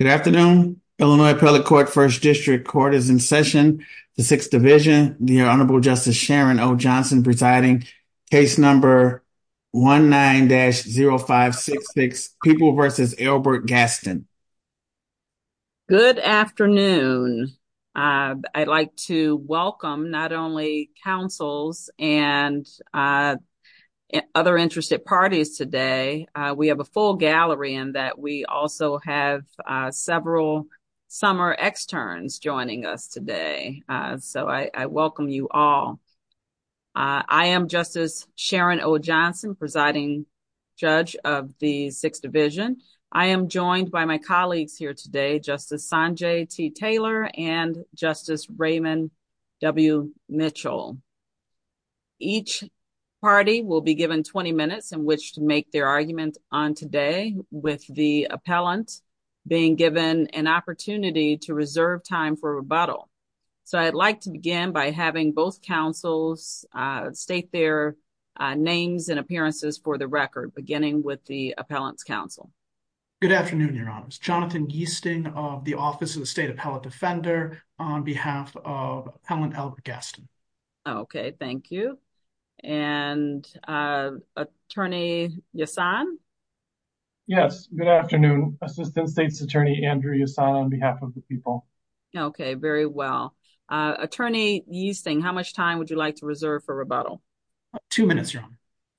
Good afternoon. Illinois Appellate Court First District Court is in session. The sixth division, the Honorable Justice Sharon O. Johnson presiding case number one nine dash zero five six six people versus Albert Gaston. Good afternoon. Uh I'd like to welcome not only councils and uh other interested parties today. Uh we have a full gallery and that we also have uh several summer externs joining us today. Uh so I I welcome you all. Uh I am Justice Sharon O. Johnson presiding judge of the sixth division. I am joined by my colleagues here today. Justice Sanjay T. Taylor and Justice Raymond W. Mitchell. Each party will be given 20 minutes in which to make their argument on today with the appellant being given an opportunity to reserve time for rebuttal. So, I'd like to begin by having both councils uh state their uh names and appearances for the record beginning with the appellant's counsel. Good afternoon, your honors. Jonathan Gesting of the Office of the State Appellate Defender on behalf of Appellant Okay, thank you. And uh attorney Yesan? Yes, good afternoon. Assistant State's Attorney Andrew Yesan on behalf of the people. Okay, very well. Uh attorney Yeasing, how much time would you like to reserve for rebuttal? Uh 2 minutes, your honor.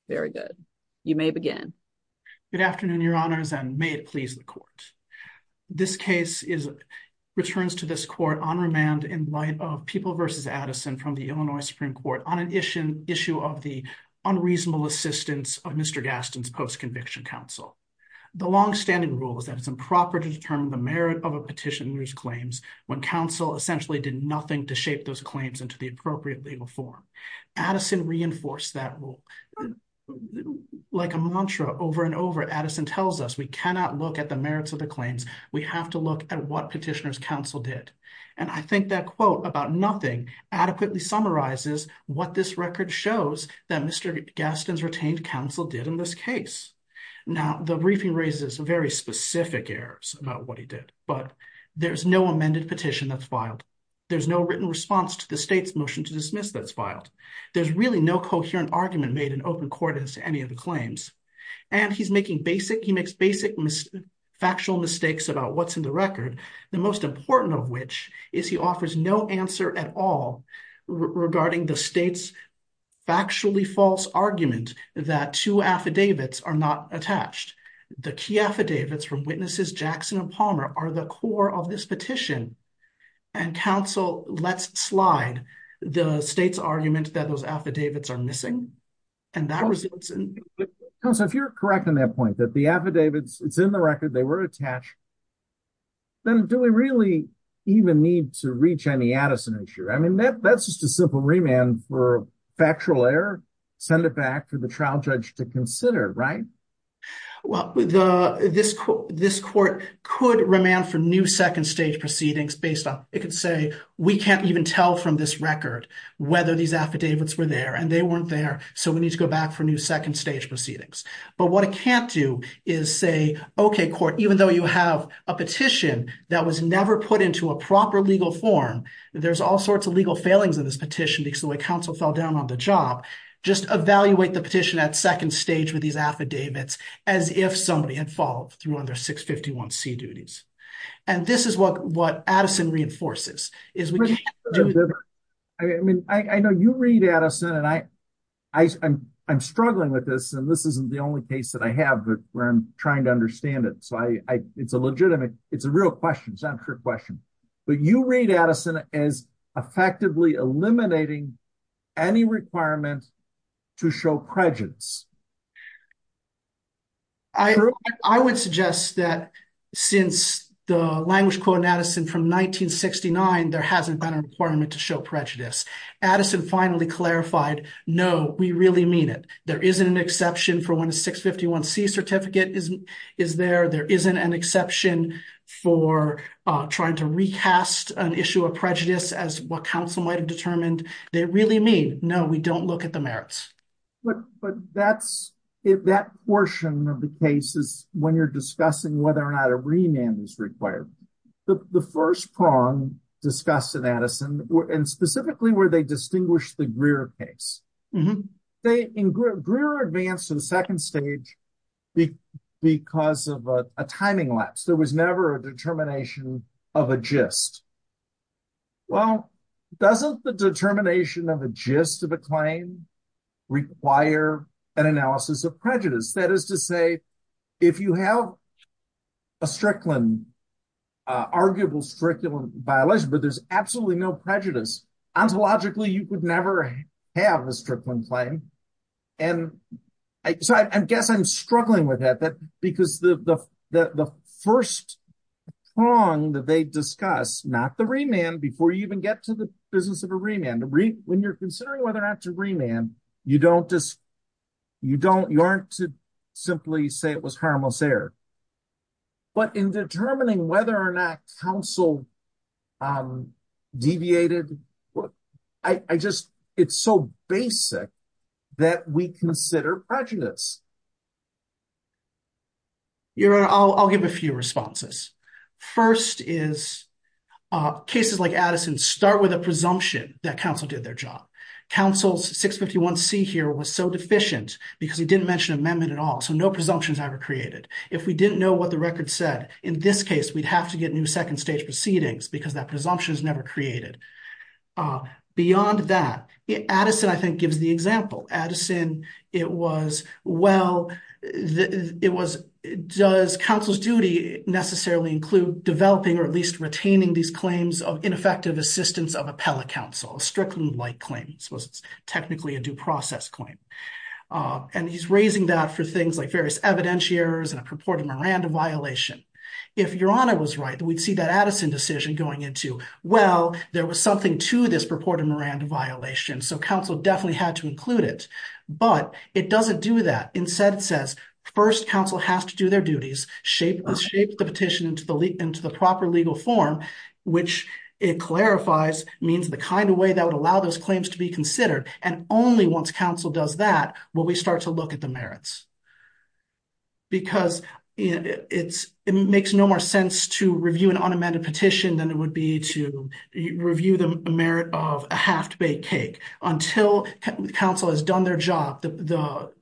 Very good. You may begin. Good afternoon, your honors and may it please the court. This case is returns to this court on behalf of Mr. Gaston. Mr. with a quote from Mr. Addison from the Illinois Supreme Court on an issue issue of the unreasonable assistance of Mr. Gaston's post conviction counsel. The long-standing rule is that it's improper to determine the merit of a petitioner's claims when counsel essentially did nothing to shape those claims into the appropriate legal form. Addison reinforced that rule. Like a mantra over and over, Addison tells us we cannot look at the case and adequately summarizes what this record shows that Mr. Gaston's retained counsel did in this case. Now, the briefing raises a very specific errors about what he did but there's no amended petition that's filed. There's no written response to the state's motion to dismiss that's filed. There's really no coherent argument made in open court as to any of the claims and he's making basic, he makes basic factual mistakes about what's in the record. The most important of which is he offers no answer at all regarding the state's factually false argument that two affidavits are not attached. The key affidavits from witnesses Jackson and Palmer are the core of this petition and counsel lets slide the state's argument that those affidavits are missing and that results in... Counsel, if you're correct in that point, that the affidavits it's in the record, they were attached, then do we really even need to reach any Addison issue? That's just a simple remand for factual error, send it back to the trial judge to consider, right? Well, this court could remand for new second stage proceedings based on, it could say, we can't even tell from this record whether these affidavits were there and they weren't there so we need to go back for new second stage proceedings. But what it can't do is say, okay court, even though you have a petition that was never put into a proper legal form, there's all sorts of legal failings in this petition because the way counsel fell down on the job, just evaluate the petition at second stage with these affidavits as if somebody had followed through on their 651C duties. And this is what Addison reinforces. I mean, I know you read Addison and I'm struggling with this and this isn't the only case that I have where I'm trying to understand it. So it's a legitimate, it's a real question, it's not a trick question. But you read Addison as effectively eliminating any requirement to show prejudice. I would suggest that since the language quote in Addison from 1969, there hasn't been a requirement to show prejudice. Addison finally clarified, no, we really mean it. There isn't an exception for when a 651C certificate is there, there isn't an exception for trying to recast an issue of prejudice as what counsel might have determined. They really mean, no, we don't look at the merits. But that's, that portion of the case is when you're discussing whether or not a remand is required. The first prong discussed in Addison and specifically where they distinguished the Greer case. Greer advanced to the second stage because of a timing lapse. There was never a determination of a gist. Well, doesn't the determination of a gist of a claim require an analysis of prejudice? That is to say, if you have a Strickland, arguable Strickland violation, but there's absolutely no prejudice, ontologically you could never have a Strickland claim. And I guess I'm struggling with that because the first prong that they discuss, not the remand, before you even get to the business of a remand, when you're considering whether or not to remand, you don't just, you don't, you aren't to simply say it was harmless error. But in determining whether or not counsel deviated, I just, it's so basic that we consider prejudice. Your Honor, I'll give a few responses. First is cases like Addison start with a presumption that counsel did their job. Counsel's 651C here was so deficient because he didn't mention amendment at all, so no presumptions ever created. If we didn't know what the record said, in this case we'd have to get new second stage proceedings because that presumption is never created. Beyond that, Addison I think gives the example. Addison, it was well, it was, does counsel's duty necessarily include developing or at least retaining these claims of ineffective assistance of appellate counsel, a Strickland-like claim. This was technically a due process claim. And he's raising that for things like various evidentiary errors and a purported Miranda violation. If Your Honor was right, we'd see that Addison decision going into, well, there was something to this purported Miranda violation, so counsel definitely had to include it. But it doesn't do that. Instead it says first counsel has to do their duties, shape the petition into the proper legal form, which it clarifies means the kind of way that would allow those claims to be considered. And only once counsel does that will we start to look at the merits. Because it makes no more sense to review an unamended petition than it would be to review the merit of a half-baked cake. Until counsel has done their job, the...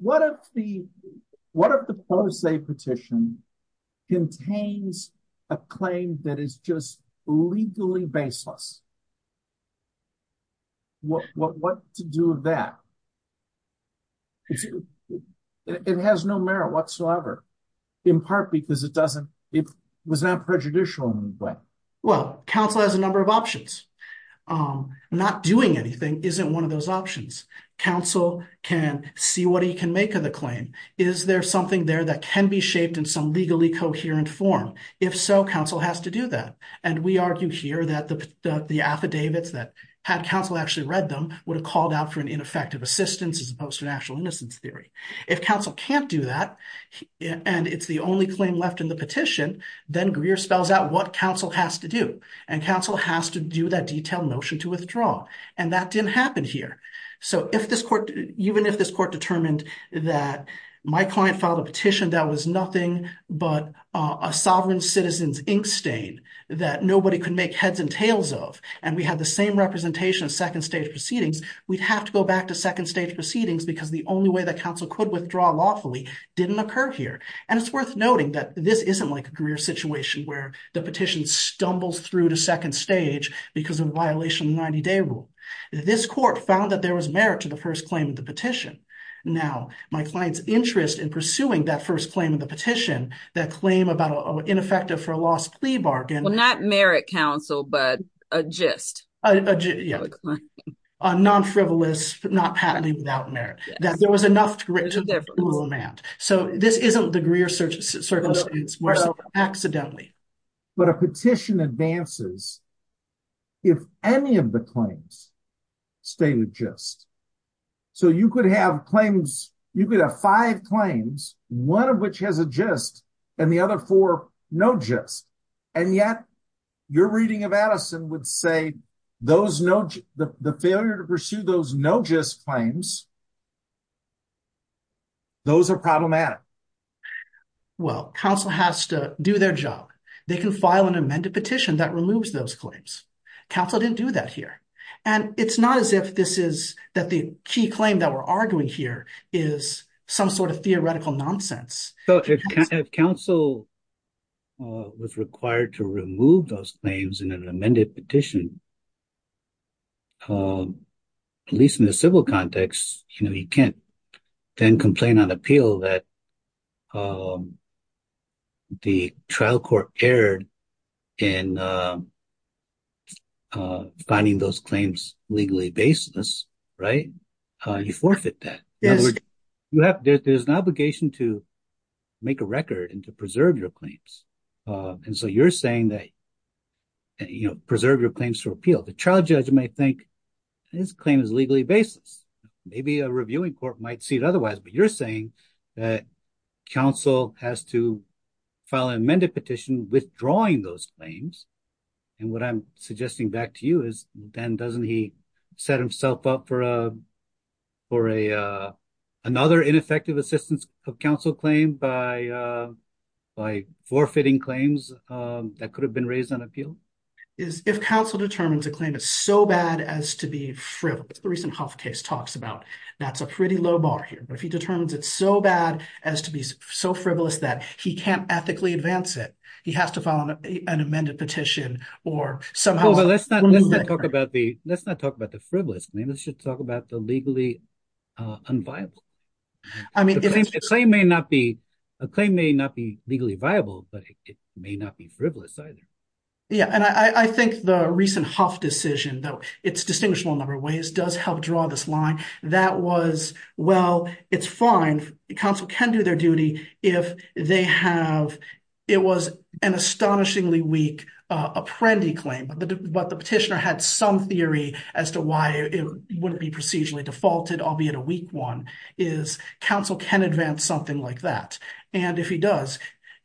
What if the what if the pro se petition contains a claim that is just legally baseless? What to do with that? It has no merit whatsoever, in part because it doesn't, it was not prejudicial in any way. Well, counsel has a number of options. Not doing anything isn't one of those options. Counsel can see what he can make of the claim. Is there something there that can be shaped in some legally coherent form? If so, counsel has to do that. And we argue here that the affidavits that had counsel actually read them would have called out for an ineffective assistance as opposed to an actual innocence theory. If counsel can't do that, and it's the only claim left in the petition, then Greer spells out what counsel has to do. And counsel has to do that detailed notion to withdraw. And that didn't happen here. So if this court, even if this court determined that my client filed a petition that was nothing but a sovereign citizen's ink stain that nobody could make heads and tails of, and we had the same representation of second stage proceedings, we'd have to go back to second stage proceedings because the only way that counsel could withdraw lawfully didn't occur here. And it's worth noting that this isn't like a Greer situation where the petition stumbles through to second stage because of a violation of the 90-day rule. This court found that there was merit to the first claim of the petition. Now, my client's interest in pursuing that first claim of the petition, that claim about an ineffective for a lost plea bargain... Well, not merit, counsel, but a gist. A non-frivolous, not patenting without merit. That there was enough to implement. So this isn't the Greer circumstance. But a petition advances if any of the claims state a gist. So you could have claims, you could have five claims, one of which has a gist, and the other four, no gist. And yet, your reading of Addison would say the failure to pursue those no gist claims, those are problematic. Well, counsel has to do their job. They can file an amended petition that removes those claims. Counsel didn't do that here. And it's not as if this is that the key claim that we're arguing here is some sort of theoretical nonsense. If counsel was required to remove those claims in an amended petition, at least in the civil context, you know, you can't then complain on appeal that the trial court erred in finding those claims legally baseless, right? You forfeit that. There's an obligation to make a record and to preserve your claims. And so you're saying that, you know, preserve your claims for appeal. The trial judge may think his claim is legally baseless. Maybe a little bit. But you're saying that counsel has to file an amended petition withdrawing those claims. And what I'm suggesting back to you is then doesn't he set himself up for a another ineffective assistance of counsel claim by forfeiting claims that could have been raised on appeal? If counsel determines a claim is so bad as to be fripped, the recent Huff case talks about that's a pretty low bar here. But if he determines it's so bad as to be so frivolous that he can't ethically advance it, he has to file an amended petition or somehow. But let's not let's not talk about the let's not talk about the frivolous claim. Let's just talk about the legally unviable. I mean, a claim may not be a claim may not be legally viable, but it may not be frivolous either. Yeah, and I think the recent Huff decision, though it's distinguishable in a number of ways, does help draw this line that was, well, it's fine. Counsel can do their duty if they have it was an astonishingly weak Apprendi claim, but the petitioner had some theory as to why it wouldn't be procedurally defaulted, albeit a weak one, is counsel can advance something like that. And if he does,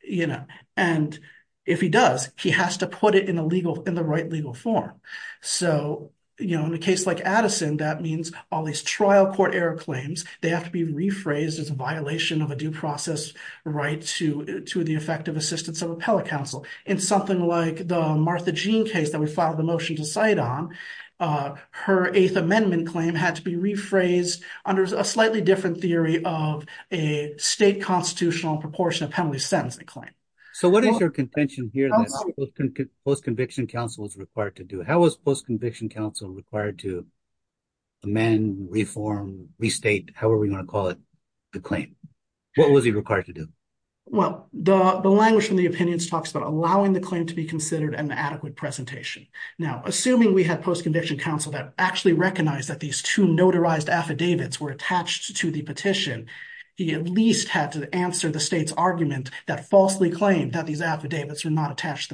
you know, and if he does, he has to put it in a legal in the right legal form. So, you know, in a case like Addison, that means all these trial court error claims, they have to be rephrased as a violation of a due process right to to the effective assistance of appellate counsel. In something like the Martha Jean case that we filed the motion to cite on, her Eighth Amendment claim had to be rephrased under a slightly different theory of a state constitutional proportionate penalty sentencing claim. So what is your contention here that post-conviction counsel was required to do? How was post-conviction counsel required to amend, reform, restate, however you want to call it, the claim? What was he required to do? Well, the language from the opinions talks about allowing the claim to be considered an adequate presentation. Now, assuming we had post-conviction counsel that actually recognized that these two notarized affidavits were attached to the petition, he at least had to answer the state's argument that falsely claimed that these affidavits were not attached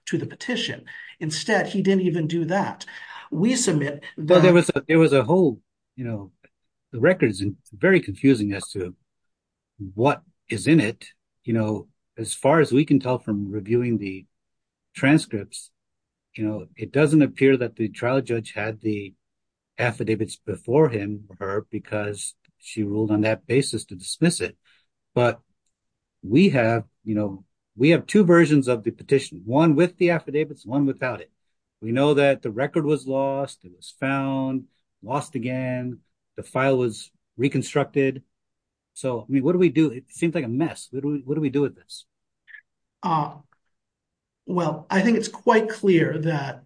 to the petition. Instead, he didn't even do that. Well, there was there was a whole, you know, the record is very confusing as to what is in it, you know, as far as we can tell from reviewing the transcripts, you know, it doesn't appear that the trial judge had the affidavits before him or her because she ruled on that basis to dismiss it. But we have, you know, we have two versions of the petition, one with the affidavits, one without it. We know that the record was lost. It was found, lost again. The file was reconstructed. So, I mean, what do we do? It seems like a mess. What do we do with this? Well, I think it's quite clear that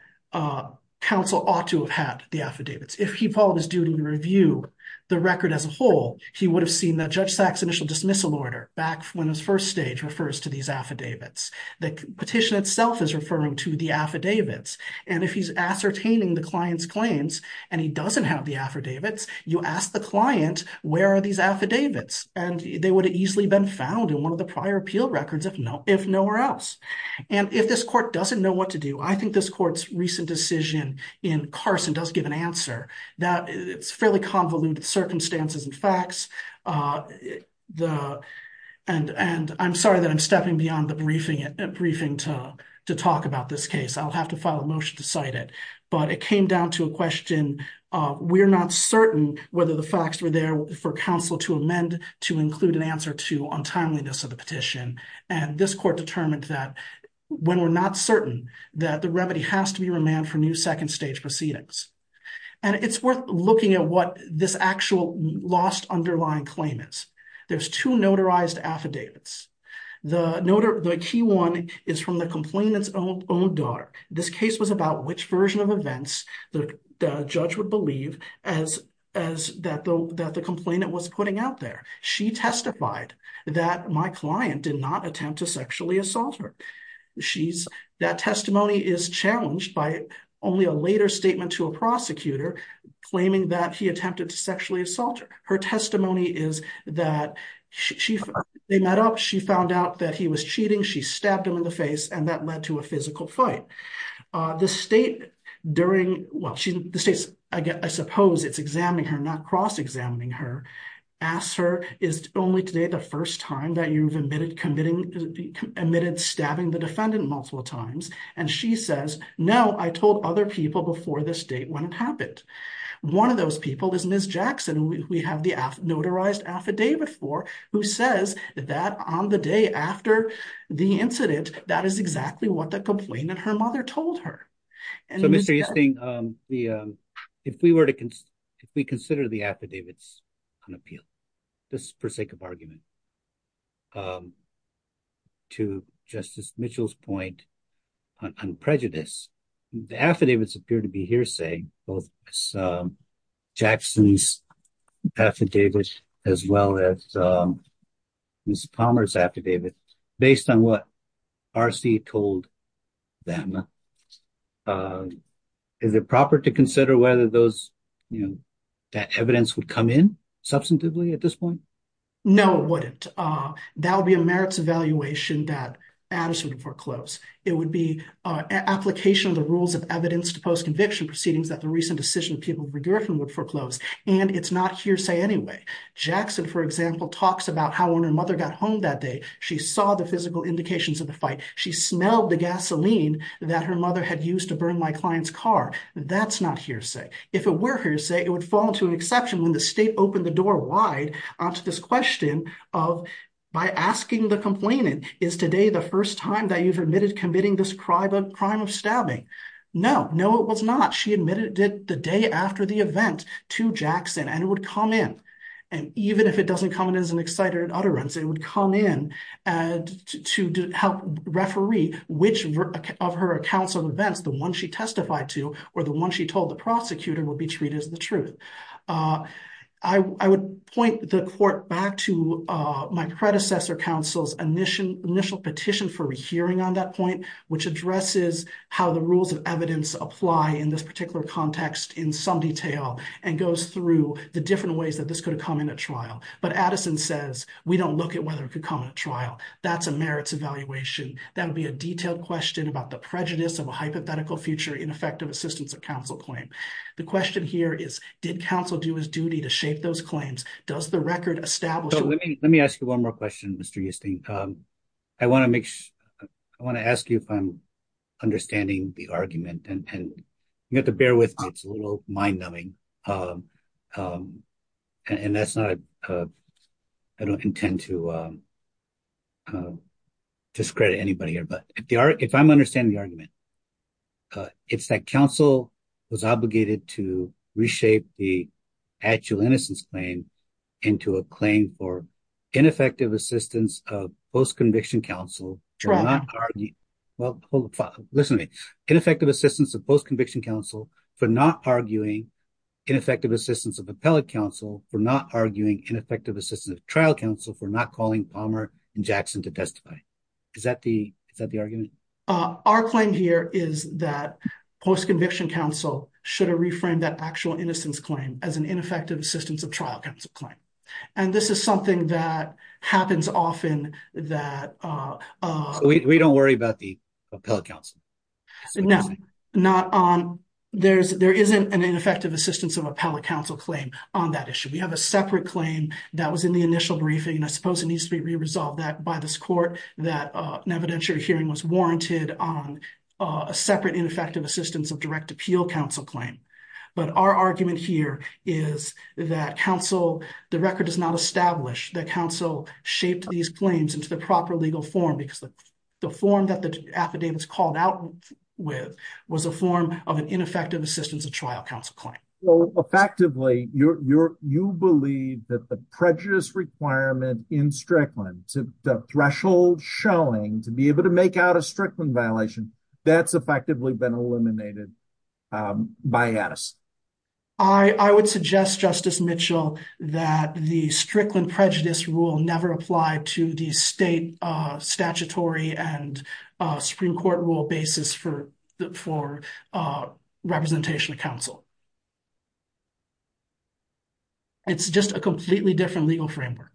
counsel ought to have had the affidavits. If he followed his duty to review the record as a whole, he would have seen that Judge Sack's initial dismissal order back when his first stage refers to these affidavits. The petition itself is referring to the affidavits. And if he's ascertaining the client's claims and he doesn't have the affidavits, you ask the client, where are these affidavits? And they would have easily been found in one of the prior appeal records if nowhere else. And if this court doesn't know what to do, I think this court's recent decision in Carson does give an answer that it's fairly convoluted circumstances and facts, and I'm sorry that I'm stepping beyond the briefing to talk about this case. I'll have to file a motion to cite it. But it came down to a question, we're not certain whether the facts were there for counsel to amend to include an answer to untimeliness of the petition. And this court determined that when we're not certain, that the remedy has to be remanded for new second stage proceedings. And it's worth looking at what this actual lost underlying claim is. There's two notarized affidavits. The key one is from the complainant's own daughter. This case was about which version of events the judge would believe that the complainant was putting out there. She testified that my client did not attempt to sexually assault her. That testimony is challenged by only a later statement to a prosecutor claiming that he attempted to sexually assault her. Her testimony is that they met up, she found out that he was cheating, she stabbed him in the face, and that led to a physical fight. The state during, well, the state, I suppose it's examining her, not cross-examining her, asked her, is only today the first time that you've admitted committing, admitted stabbing the defendant multiple times? And she says, no, I told other people before this date when it happened. One of those people is Ms. Jackson. We have the notarized affidavit for, who says that on the day after the incident, that is exactly what the complainant, her mother told her. So Mr. Easting, if we were to consider the affidavits unappealed, just for sake of argument, to Justice Mitchell's point on prejudice, the affidavits appear to be hearsay, both Jackson's affidavits as well as Ms. Palmer's affidavits, based on what RC told them. Is it proper to consider whether those, you know, that evidence would come in substantively at this point? No, it wouldn't. That would be a merits evaluation that attorneys would foreclose. It would be application of the rules of evidence to post-conviction proceedings that the recent decision of Peter McGurfin would foreclose, and it's not hearsay anyway. Jackson, for example, talks about how when her mother got home that day, she saw the physical indications of the fight. She smelled the gasoline that her mother had used to burn my client's car. That's not hearsay. If it were hearsay, it would fall into an exception when the state opened the door wide onto this question of, by asking the complainant, is today the first time that you've admitted committing this crime of stabbing? No, no it was not. She admitted it the day after the event to Jackson, and it would come in, and even if it doesn't come in as an excited utterance, it would come in to help referee which of her accounts of events, the one she testified to, or the one she told the prosecutor would be treated as the truth. I would point the court back to my predecessor counsel's initial petition for a hearing on that point, which addresses how the rules of evidence apply in this particular context in some detail, and goes through the different ways that this could have come in at trial. But Addison says, we don't look at whether it could come in at trial. That's a merits evaluation. That would be a detailed question about the prejudice of a hypothetical future ineffective assistance of counsel claim. The question here is, did counsel do his duty to shape those claims? Does the record establish... Let me ask you one more question, Mr. Yustin. I want to ask you if I'm understanding the argument, and you have to bear with me, it's a little mind-numbing, and that's not... I don't intend to discredit anybody here, but if I'm understanding the argument, it's that counsel was obligated to reshape the actual innocence claim into a claim for ineffective assistance of post conviction counsel... Well, listen to me. Ineffective assistance of post conviction counsel for not arguing ineffective assistance of appellate counsel for not arguing ineffective assistance of trial counsel for not calling Palmer and Jackson to testify. Is that the argument? Our claim here is that post conviction counsel should have reframed that actual innocence claim as an ineffective assistance of trial counsel claim. And this is something that happens often that... We don't worry about the appellate counsel. There isn't an ineffective assistance of appellate counsel claim on that issue. We have a separate claim that was in the initial briefing, and I suppose it needs to be re-resolved by this court that an evidentiary hearing was warranted on a separate ineffective assistance of direct appeal counsel claim. But our argument here is that counsel... The record does not establish that counsel shaped these claims into the proper legal form because the form that the affidavits called out with was a form of an ineffective assistance of trial counsel claim. Effectively, you believe that the prejudice requirement in Strickland, the threshold showing to be able to make out a Strickland violation, that's effectively been eliminated by Addison. I would suggest, Justice Mitchell, that the Strickland prejudice rule never apply to the state statutory and Supreme Court rule basis for representation of counsel. It's just a completely different legal framework.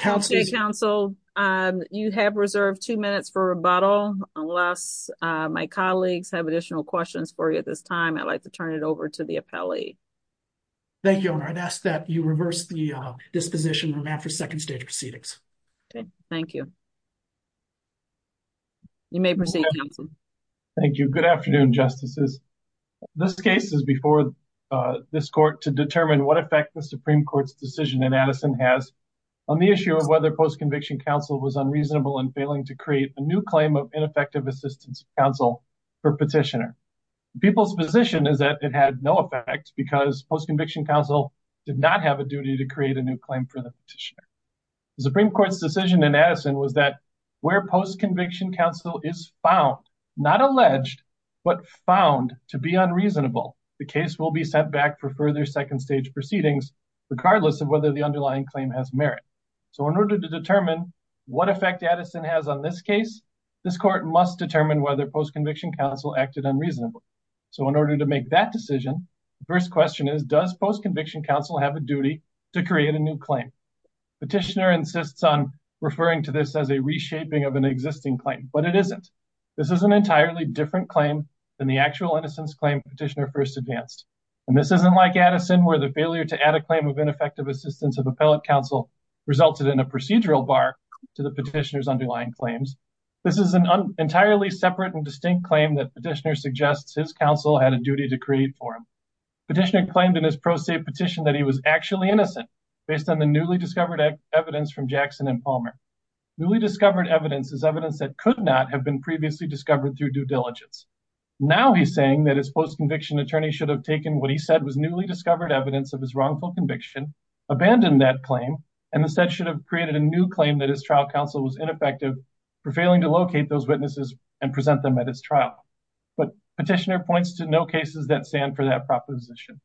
Okay, counsel. You have reserved two minutes for rebuttal. Unless my colleagues have additional questions for you at this time, I'd like to turn it over to the appellee. Thank you, Your Honor. I'd ask that you reverse the disposition from Manfred's second stage proceedings. Okay, thank you. You may proceed, counsel. Thank you. Good afternoon, Justices. This case is before this court to determine what effect the Supreme Court's decision in Addison has on the issue of whether post-conviction counsel was unreasonable in failing to create a new claim of ineffective assistance of counsel for petitioner. People's position is that it had no effect because post-conviction counsel did not have a duty to create a new claim for petitioner. The Supreme Court's decision in Addison was that where post-conviction counsel is found, not alleged, but found to be unreasonable, the case will be set back for further second stage proceedings regardless of whether the underlying claim has merit. So in order to determine what effect Addison has on this case, this court must determine whether post-conviction counsel acted unreasonably. So in order to make that decision, the first question is does post-conviction counsel have a duty to create a new claim for petitioner? Petitioner insists on referring to this as a reshaping of an existing claim, but it isn't. This is an entirely different claim than the actual innocence claim petitioner first advanced. And this isn't like Addison where the failure to add a claim of ineffective assistance of appellate counsel resulted in a procedural bar to the petitioner's underlying claims. This is an entirely separate and distinct claim that petitioner suggests his counsel had a duty to create for him. Petitioner claimed in his pro se petition that he was actually innocent based on the newly discovered evidence from Jackson and Palmer. Newly discovered evidence is evidence that could not have been previously discovered through due diligence. Now he's saying that his post-conviction attorney should have taken what he said was newly discovered evidence of his wrongful conviction, abandoned that claim, and instead should have created a new claim that his trial counsel was ineffective for failing to locate those witnesses and present them at his trial. But petitioner points to no position.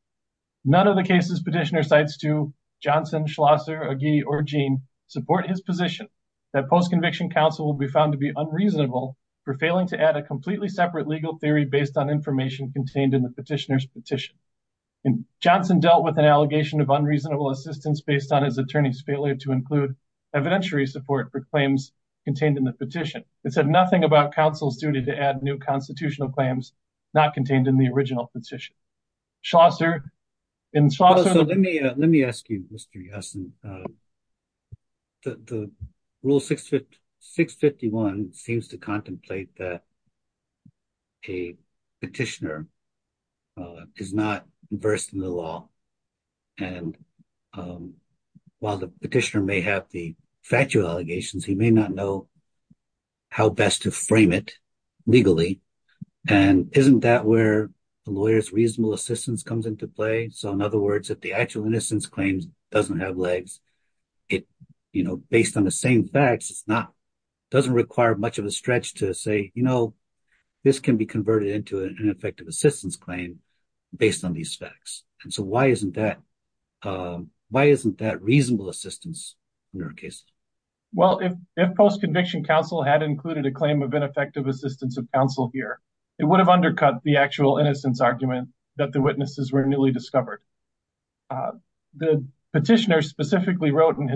None of the cases petitioner cites to Johnson, Schlosser, Agee, or Jean support his position that post-conviction counsel will be found to be unreasonable for failing to add a completely separate legal theory based on information contained in the petitioner's petition. Johnson dealt with an allegation of unreasonable assistance based on his attorney's failure to include evidentiary support for claims contained in the petition. It said nothing about counsel's duty to add new constitutional claims not Schlosser. Let me ask you, Mr. Yasin. Rule 651 seems to contemplate that a petitioner is not versed in the law and while the petitioner may have the factual allegations, he may not know how best to frame it legally and isn't that where the lawyer's reasonable assistance comes into play? So in other words, if the actual innocence claims doesn't have legs, based on the same facts, it doesn't require much of a stretch to say, this can be converted into an ineffective assistance claim based on these facts. Why isn't that reasonable assistance in your case? If post-conviction counsel had included a claim of ineffective assistance of counsel here, it would have undercut the actual innocence argument that the witnesses were newly discovered. The petitioner specifically wrote in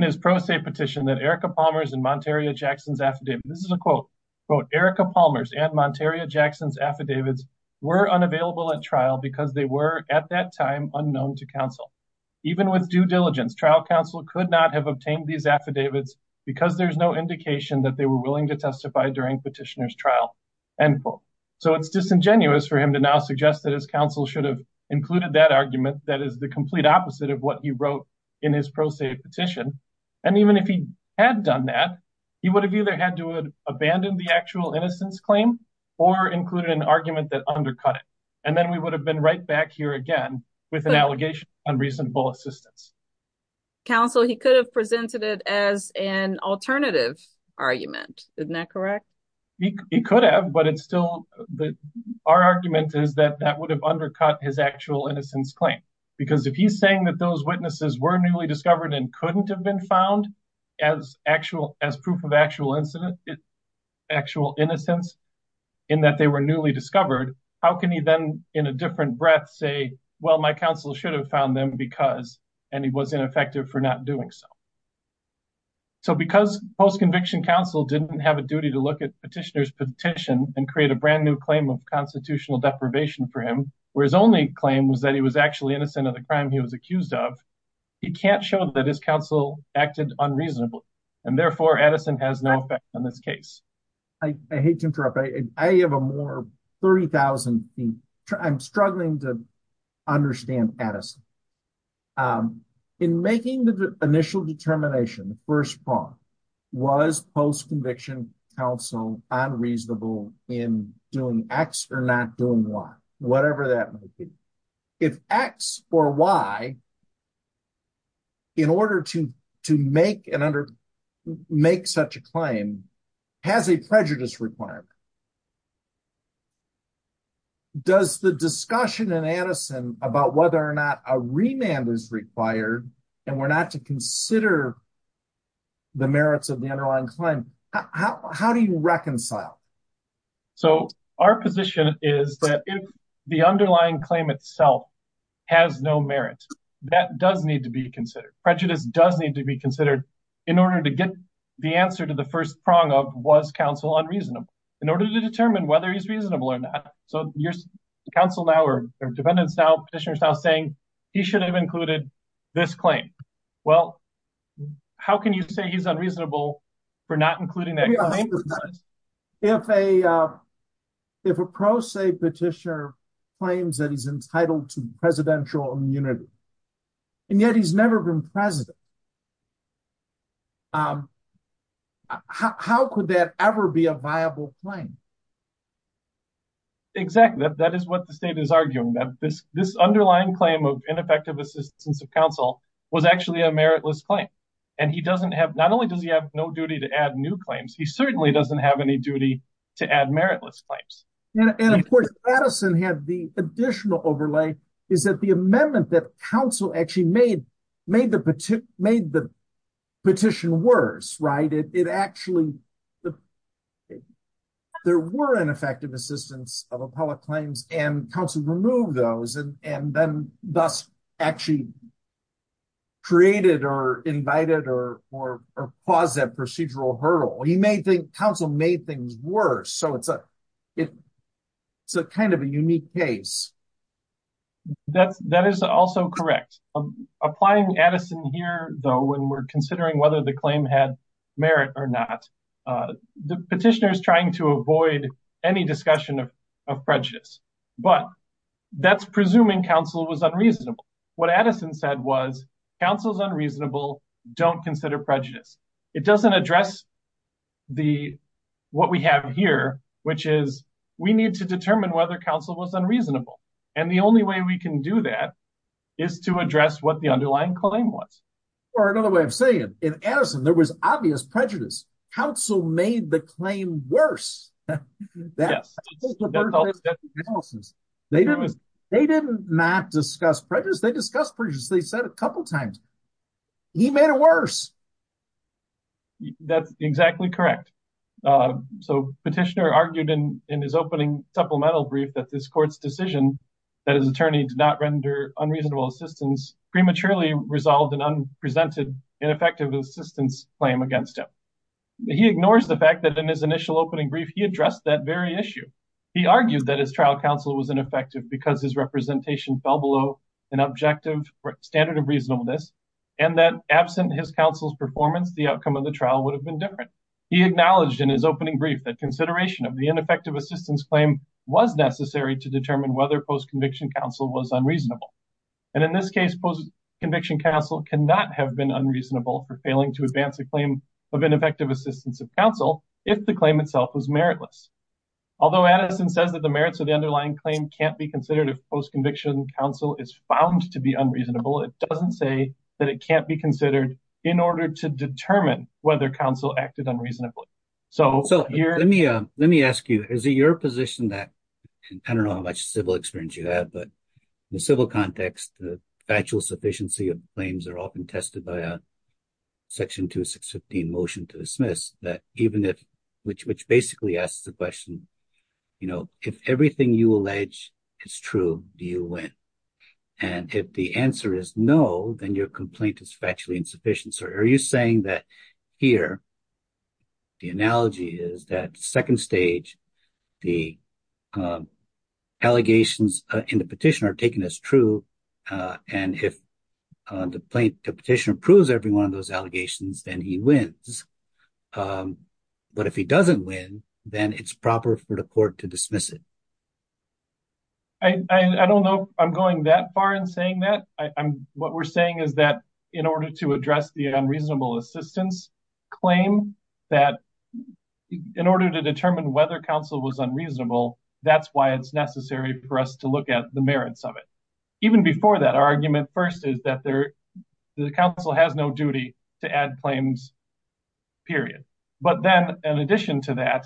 his pro se petition that Erika Palmer's and Monteria Jackson's affidavits, this is a quote, Erika Palmer's and Monteria Jackson's affidavits were unavailable at trial because they were, at that time, unknown to counsel. Even with due diligence, trial counsel could not have obtained these affidavits because there's no indication that they were willing to testify during petitioner's trial, end quote. So it's disingenuous for him to now suggest that his counsel should have included that argument that is the complete opposite of what he wrote in his pro se petition. And even if he had done that, he would have either had to abandon the actual innocence claim or included an argument that undercut it. And then we would have been right back here again with an allegation of unreasonable assistance. Counsel, he could have presented it as an alternative argument. Isn't that correct? He could have, but it's still our argument is that that would have undercut his actual innocence claim. Because if he's saying that those witnesses were newly discovered and couldn't have been found as proof of actual innocence in that they were newly discovered, how can he then, in a different breath, say, well, my counsel should have found them because, and he was ineffective for not doing so. So because post-conviction counsel didn't have a duty to look at petitioner's petition and create a brand new claim of constitutional deprivation for him, where his only claim was that he was actually innocent of the crime he was accused of, he can't show that his counsel acted unreasonably. And therefore, Edison has no effect on this case. I hate to interrupt. I have a more 30,000 feet. I'm struggling to understand Edison. In making the initial determination, the first part, was post-conviction counsel unreasonable in doing X or not doing Y, whatever that might be. If X or Y, in order to make such a claim, has a prejudice requirement, does the discussion in Edison about whether or not a remand is required and we're not to consider the merits of the underlying claim, how do you reconcile? So our position is that if the underlying claim itself has no merit, that does need to be considered. Prejudice does need to be considered in order to get the answer unreasonable? In order to determine whether he's reasonable or not. So your counsel now, or defendants now, petitioners now saying he should have included this claim. Well, how can you say he's unreasonable for not including that claim? If a pro se petitioner claims that he's entitled to presidential immunity and yet he's never been president, how could that ever be a viable claim? Exactly. That is what the state is arguing. This underlying claim of ineffective assistance of counsel was actually a meritless claim. And he doesn't have, not only does he have no duty to add new claims, he certainly doesn't have any duty to add meritless claims. And of course, Edison had the additional overlay is that the amendment that counsel actually made made the petition worse, right? It actually there were ineffective assistance of appellate claims and counsel removed those and then thus actually created or invited or caused that procedural hurdle. He may think counsel made things worse. So it's a kind of a unique case. That is also correct. Applying Edison here though, when we're considering whether the claim had merit or not, the petitioner is trying to avoid any discussion of prejudice. But that's presuming counsel was unreasonable. What Edison said was, counsel is unreasonable, don't consider prejudice. It doesn't address the, what we have here, which is we need to determine whether counsel was unreasonable. And the only way we can do that is to address what the underlying claim was. Or another way of saying it, in Edison there was obvious prejudice. Counsel made the claim worse. Yes. They didn't not discuss prejudice. They discussed prejudice, they said a couple times. He made it worse. That's exactly correct. So petitioner argued in his opening supplemental brief that this court's decision that his attorney did not render unreasonable assistance prematurely resolved an unpresented ineffective assistance claim against him. He ignores the fact that in his initial opening brief, he addressed that very issue. He argued that his trial counsel was ineffective because his representation fell below an objective standard of reasonableness and that absent his counsel's performance, the outcome of the trial would have been different. He acknowledged in his opening brief that consideration of the ineffective assistance claim was necessary to determine whether post-conviction counsel was unreasonable. And in this case, post-conviction counsel cannot have been unreasonable for failing to advance a claim of ineffective assistance of counsel if the claim itself was meritless. Although Edison says that the merits of the underlying claim can't be considered if post-conviction counsel is found to be unreasonable, it doesn't say that it can't be considered in order to determine whether counsel acted unreasonably. So let me ask you, is it your position that, I don't know how much civil experience you have, but in a civil context, the factual sufficiency of claims are often tested by a section 216 motion to dismiss that even if, which basically asks the question, if everything you allege is true, do you win? And if the answer is no, then your complaint is factually insufficient. So are you saying that here the analogy is that second stage, the allegations in the petition are taken as true, and if the petitioner proves every one of those allegations, then he wins. But if he doesn't win, then it's proper for the court to dismiss it. I don't know if I'm going that far in saying that. What we're saying is that in order to address the unreasonable assistance claim, that in order to determine whether counsel was unreasonable, that's why it's necessary for us to look at the merits of it. Even before that, our argument first is that the counsel has no duty to add claims, period. But then, in addition to that,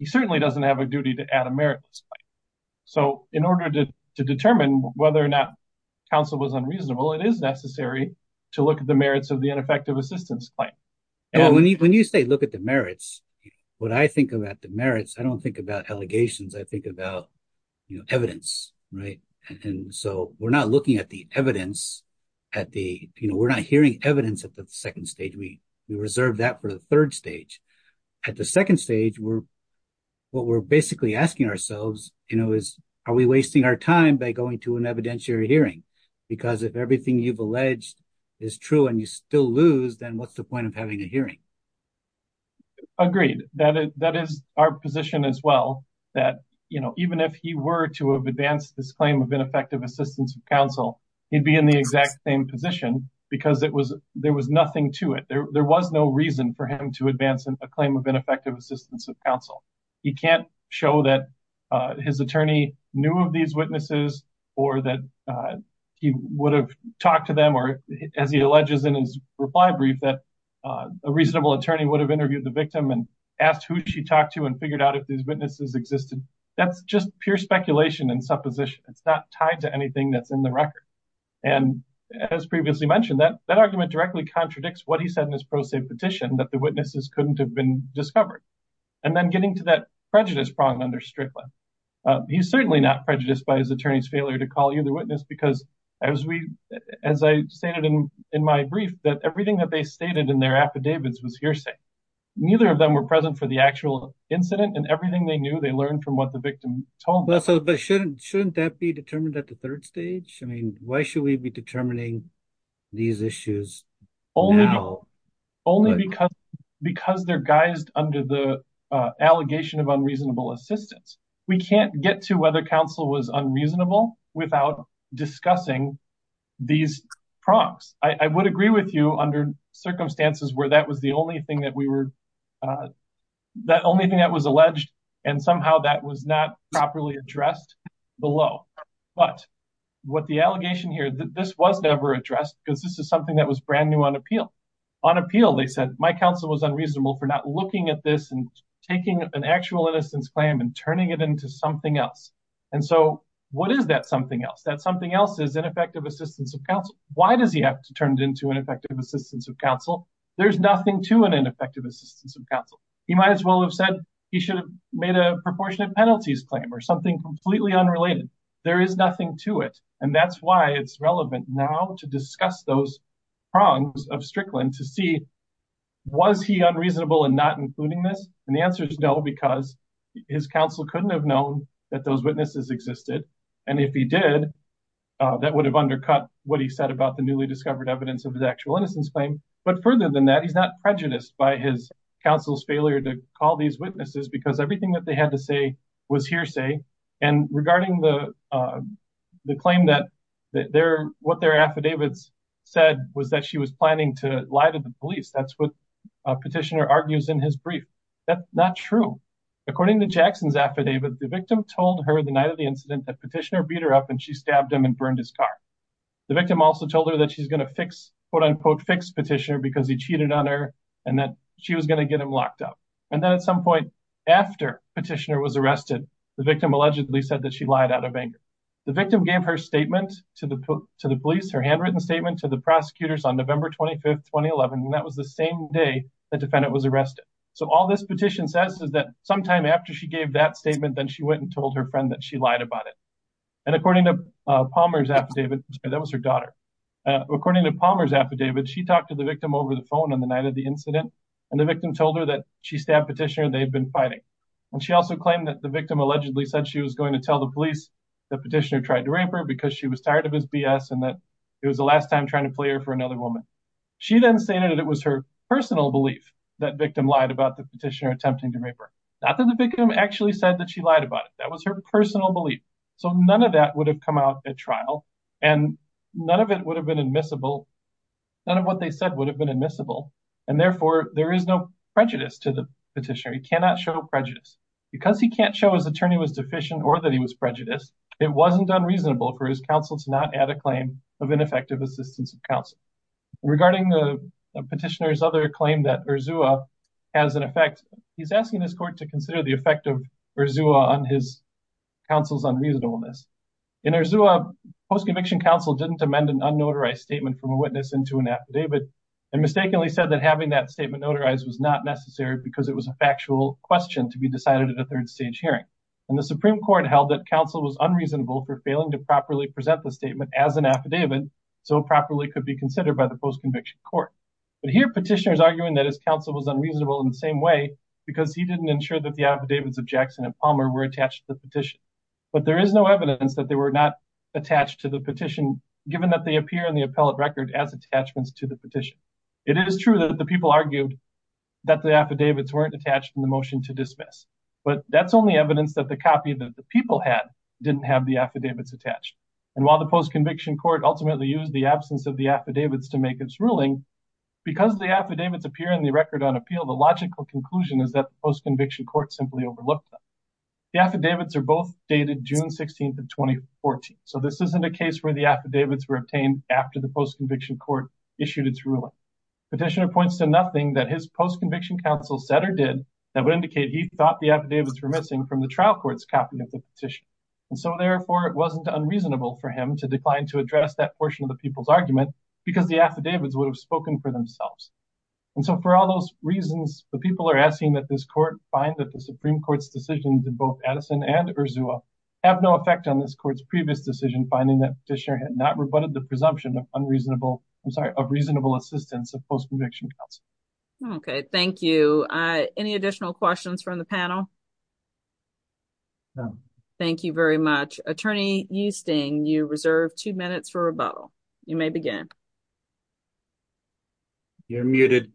he certainly doesn't have a duty to add a merit to this claim. So in order to determine whether or not counsel was unreasonable, it is necessary to look at the merits of the ineffective assistance claim. When you say look at the merits, when I think about the merits, I don't think about allegations. I think about evidence. So we're not looking at the evidence. We're not hearing evidence at the second stage. We reserve that for the third stage. At the second stage, what we're basically asking ourselves is, are we wasting our time by going to an evidentiary hearing? Because if everything you've alleged is true and you still lose, then what's the point of having a hearing? Agreed. That is our position as well, that even if he were to have advanced this claim of ineffective assistance of counsel, he'd be in the exact same position because there was nothing to it. There was no reason for him to advance a claim of ineffective assistance of counsel. He can't show that his attorney knew of these witnesses or that he would have talked to them or, as he alleges in his reply brief, that a reasonable attorney would have interviewed the victim and asked who she talked to and figured out if these witnesses existed. That's just pure speculation and supposition. It's not tied to anything that's in the record. And as previously mentioned, that argument directly contradicts what he said in his pro se petition, that the witnesses couldn't have been discovered. And then getting to that prejudice prong under Strickland, he's certainly not prejudiced by his attorney's failure to call either witness because, as I stated in my brief, that everything that they stated in their affidavits was hearsay. Neither of them were present for the actual incident and everything they knew they learned from what the victim told them. But shouldn't that be determined at the third stage? Why should we be determining these issues now? Only because they're guised under the allegation of unreasonable assistance. We can't get to whether counsel was unreasonable without discussing these prongs. I would agree with you under circumstances where that was the only thing that we were, that only thing that was alleged and somehow that was not properly addressed below. But what the allegation here, this was never addressed because this is something that was brand new on appeal. On appeal, they said, my counsel was unreasonable for not looking at this and taking an actual innocence claim and so what is that something else? That something else is ineffective assistance of counsel. Why does he have to turn it into an effective assistance of counsel? There's nothing to an ineffective assistance of counsel. He might as well have said he should have made a proportionate penalties claim or something completely unrelated. There is nothing to it and that's why it's relevant now to discuss those prongs of Strickland to see, was he unreasonable in not including this? And the answer is no because his counsel couldn't have known that those witnesses existed and if he did, that would have undercut what he said about the newly discovered evidence of his actual innocence claim. But further than that, he's not prejudiced by his counsel's failure to call these witnesses because everything that they had to say was hearsay and regarding the claim that their, what their affidavits said was that she was planning to lie to the police. That's what a petitioner argues in his brief. That's not true. According to Jackson's affidavit, the victim told her the night of the incident that petitioner beat her up and she stabbed him and burned his car. The victim also told her that she's going to fix, quote unquote, fix petitioner because he cheated on her and that she was going to get him locked up. And then at some point after petitioner was arrested, the victim allegedly said that she lied out of anger. The victim gave her statement to the police, her handwritten statement to the prosecutors on November 25th, 2011 and that was the same day the defendant was arrested. So all this petition says is that sometime after she gave that statement, then she went and told her friend that she lied about it. And according to Palmer's affidavit, that was her daughter. According to Palmer's affidavit, she talked to the victim over the phone on the night of the incident and the victim told her that she stabbed petitioner and they had been fighting. And she also claimed that the victim allegedly said she was going to tell the police that petitioner tried to rape her because she was tired of his BS and that it was the last time trying to play her for another woman. She then stated that it was her personal belief that victim lied about the petitioner attempting to rape her. Not that the victim actually said that she lied about it. That was her personal belief. So none of that would have come out at trial and none of it would have been admissible. None of what they said would have been admissible and therefore there is no prejudice to the petitioner. He cannot show prejudice. Because he can't show his attorney was deficient or that he was prejudiced, it wasn't unreasonable for his counsel to not add a claim of ineffective assistance of counsel. Regarding the petitioner's other claim that Urzua has an effect, he's asking this court to consider the effect of Urzua on his counsel's unreasonableness. In Urzua, post-conviction counsel didn't amend an unnotarized statement from a witness into an affidavit and mistakenly said that having that statement notarized was not necessary because it was a factual hearing. And the Supreme Court held that counsel was unreasonable for failing to properly present the statement as an affidavit so it properly could be considered by the post-conviction court. But here petitioner is arguing that his counsel was unreasonable in the same way because he didn't ensure that the affidavits of Jackson and Palmer were attached to the petition. But there is no evidence that they were not attached to the petition given that they appear in the appellate record as attachments to the petition. It is true that the people argued that the affidavits weren't attached in the motion to dismiss. But that's only evidence that the copy that the people had didn't have the affidavits attached. And while the post-conviction court ultimately used the absence of the affidavits to make its ruling because the affidavits appear in the record on appeal, the logical conclusion is that the post-conviction court simply overlooked them. The affidavits are both dated June 16th of 2014. So this isn't a case where the affidavits were obtained after the post-conviction court issued its ruling. Petitioner points to nothing that his post-conviction counsel said or did that would indicate he thought the affidavits were missing from the motion. And so therefore it wasn't unreasonable for him to decline to address that portion of the people's argument because the affidavits would have spoken for themselves. And so for all those reasons, the people are asking that this court find that the Supreme Court's decisions in both Addison and Urzua have no effect on this court's previous decision finding that petitioner had not rebutted the presumption of unreasonable I'm sorry, of reasonable assistance of post-conviction counsel. Thank you. Any additional questions from the panel? No. Thank you very much. Attorney Eusting, you reserve two minutes for rebuttal. You may begin. You're muted.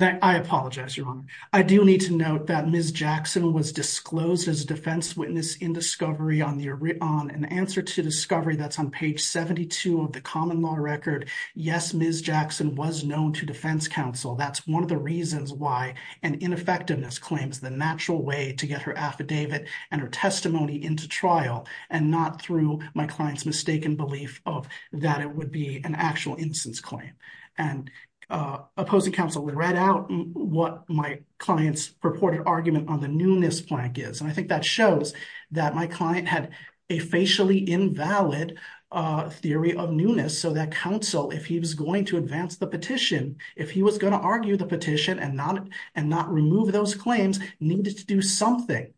I apologize, Your Honor. I do need to note that Ms. Jackson was disclosed as a defense witness in discovery on an answer to discovery that's on page 72 of the common law record. Yes, Ms. Jackson was known to defense counsel. That's one of the reasons why I'm asking that question. is because I think that effectiveness claims the natural way to get her affidavit and her testimony into trial and not through my client's mistaken belief of that it would be an actual instance claim. And opposing counsel read out what my client's purported argument on the newness plank is. And I think that shows that my client had a facially invalid theory of newness so that counsel, if he was going to advance the petition, if he was going to argue the petition and not remove those claims, needed to do something.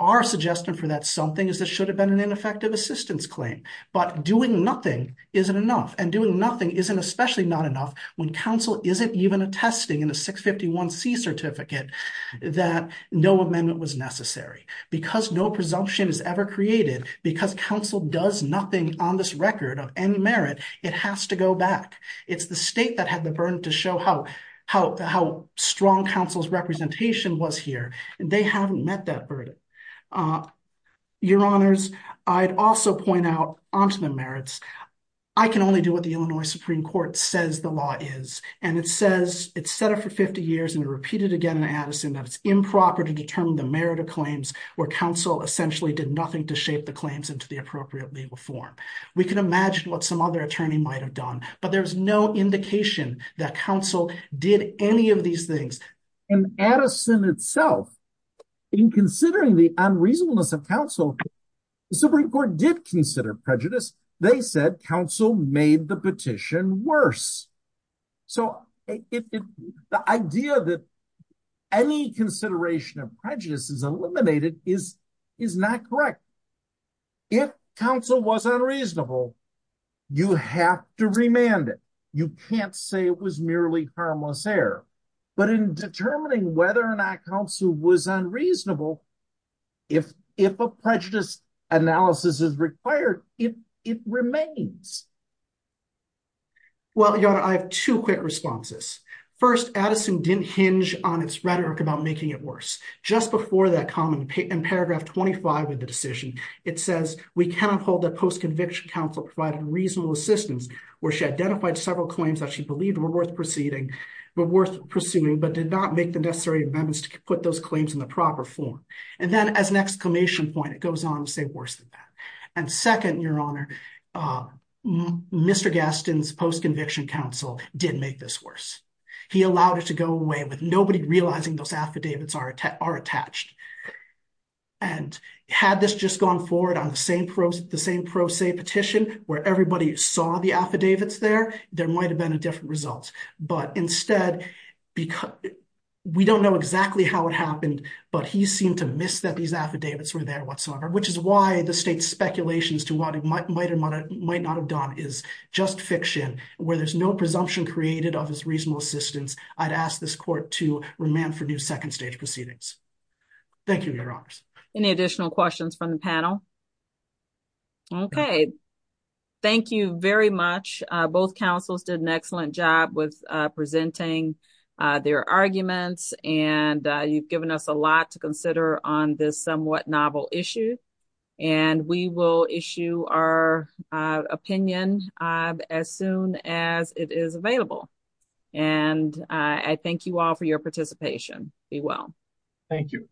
Our suggestion for that something is there should have been an ineffective assistance claim. But doing nothing isn't enough. And doing nothing isn't especially not enough when counsel isn't even attesting in the 651C certificate that no amendment was necessary. Because no presumption is ever created, because counsel does nothing on this record of any merit, it has to go back. It's the state that had the burden to show how strong counsel's representation was here. They haven't met that burden. Your Honors, I'd also point out, onto the merits, I can only do what the Illinois Supreme Court says the law is. And it says, it's set up for 50 years and repeated again in Addison that it's improper to determine the merit of claims where counsel essentially did nothing to shape the claims into the appropriate legal form. We can imagine what some other attorney might have done. But there's no indication that counsel did any of these things. And Addison itself, in considering the unreasonableness of counsel, the Supreme Court did consider prejudice. They said counsel made the petition worse. So the idea that any consideration of prejudice is eliminated is not correct. If counsel was unreasonable, you have to remand it. You can't say it was merely harmless error. But in determining whether or not counsel was unreasonable, if a prejudice analysis is required, it remains. Well, Your Honor, I have two quick responses. First, Addison didn't hinge on its rhetoric about making it worse. Just before that comment, in paragraph 25 of the decision, it says we cannot hold that post-conviction counsel provided reasonable assistance where she identified several claims that she believed were worth pursuing but did not make the necessary amendments to put those claims in the proper form. And then as an exclamation point, it goes on to say worse than that. And second, Your Honor, Mr. Gaston's post-conviction counsel did make this worse. He allowed it to go away with nobody realizing those affidavits are attached. And had this just gone forward on the same pro se petition where everybody saw the affidavits there, there might have been a different result. But instead, we don't know exactly how it happened, but he seemed to miss that these affidavits were there whatsoever, which is why the state's speculations to what he might or might not have done is just fiction, where there's no presumption created of his reasonable assistance. I'd ask this court to remand for new second stage proceedings. Thank you, Your Honors. Any additional questions from the panel? Okay. Thank you very much. Both counsels did an excellent job with presenting their arguments and you've given us a lot to consider on this somewhat novel issue and we will issue our opinion as soon as it is available. I thank you all for your participation. Be well. Thank you.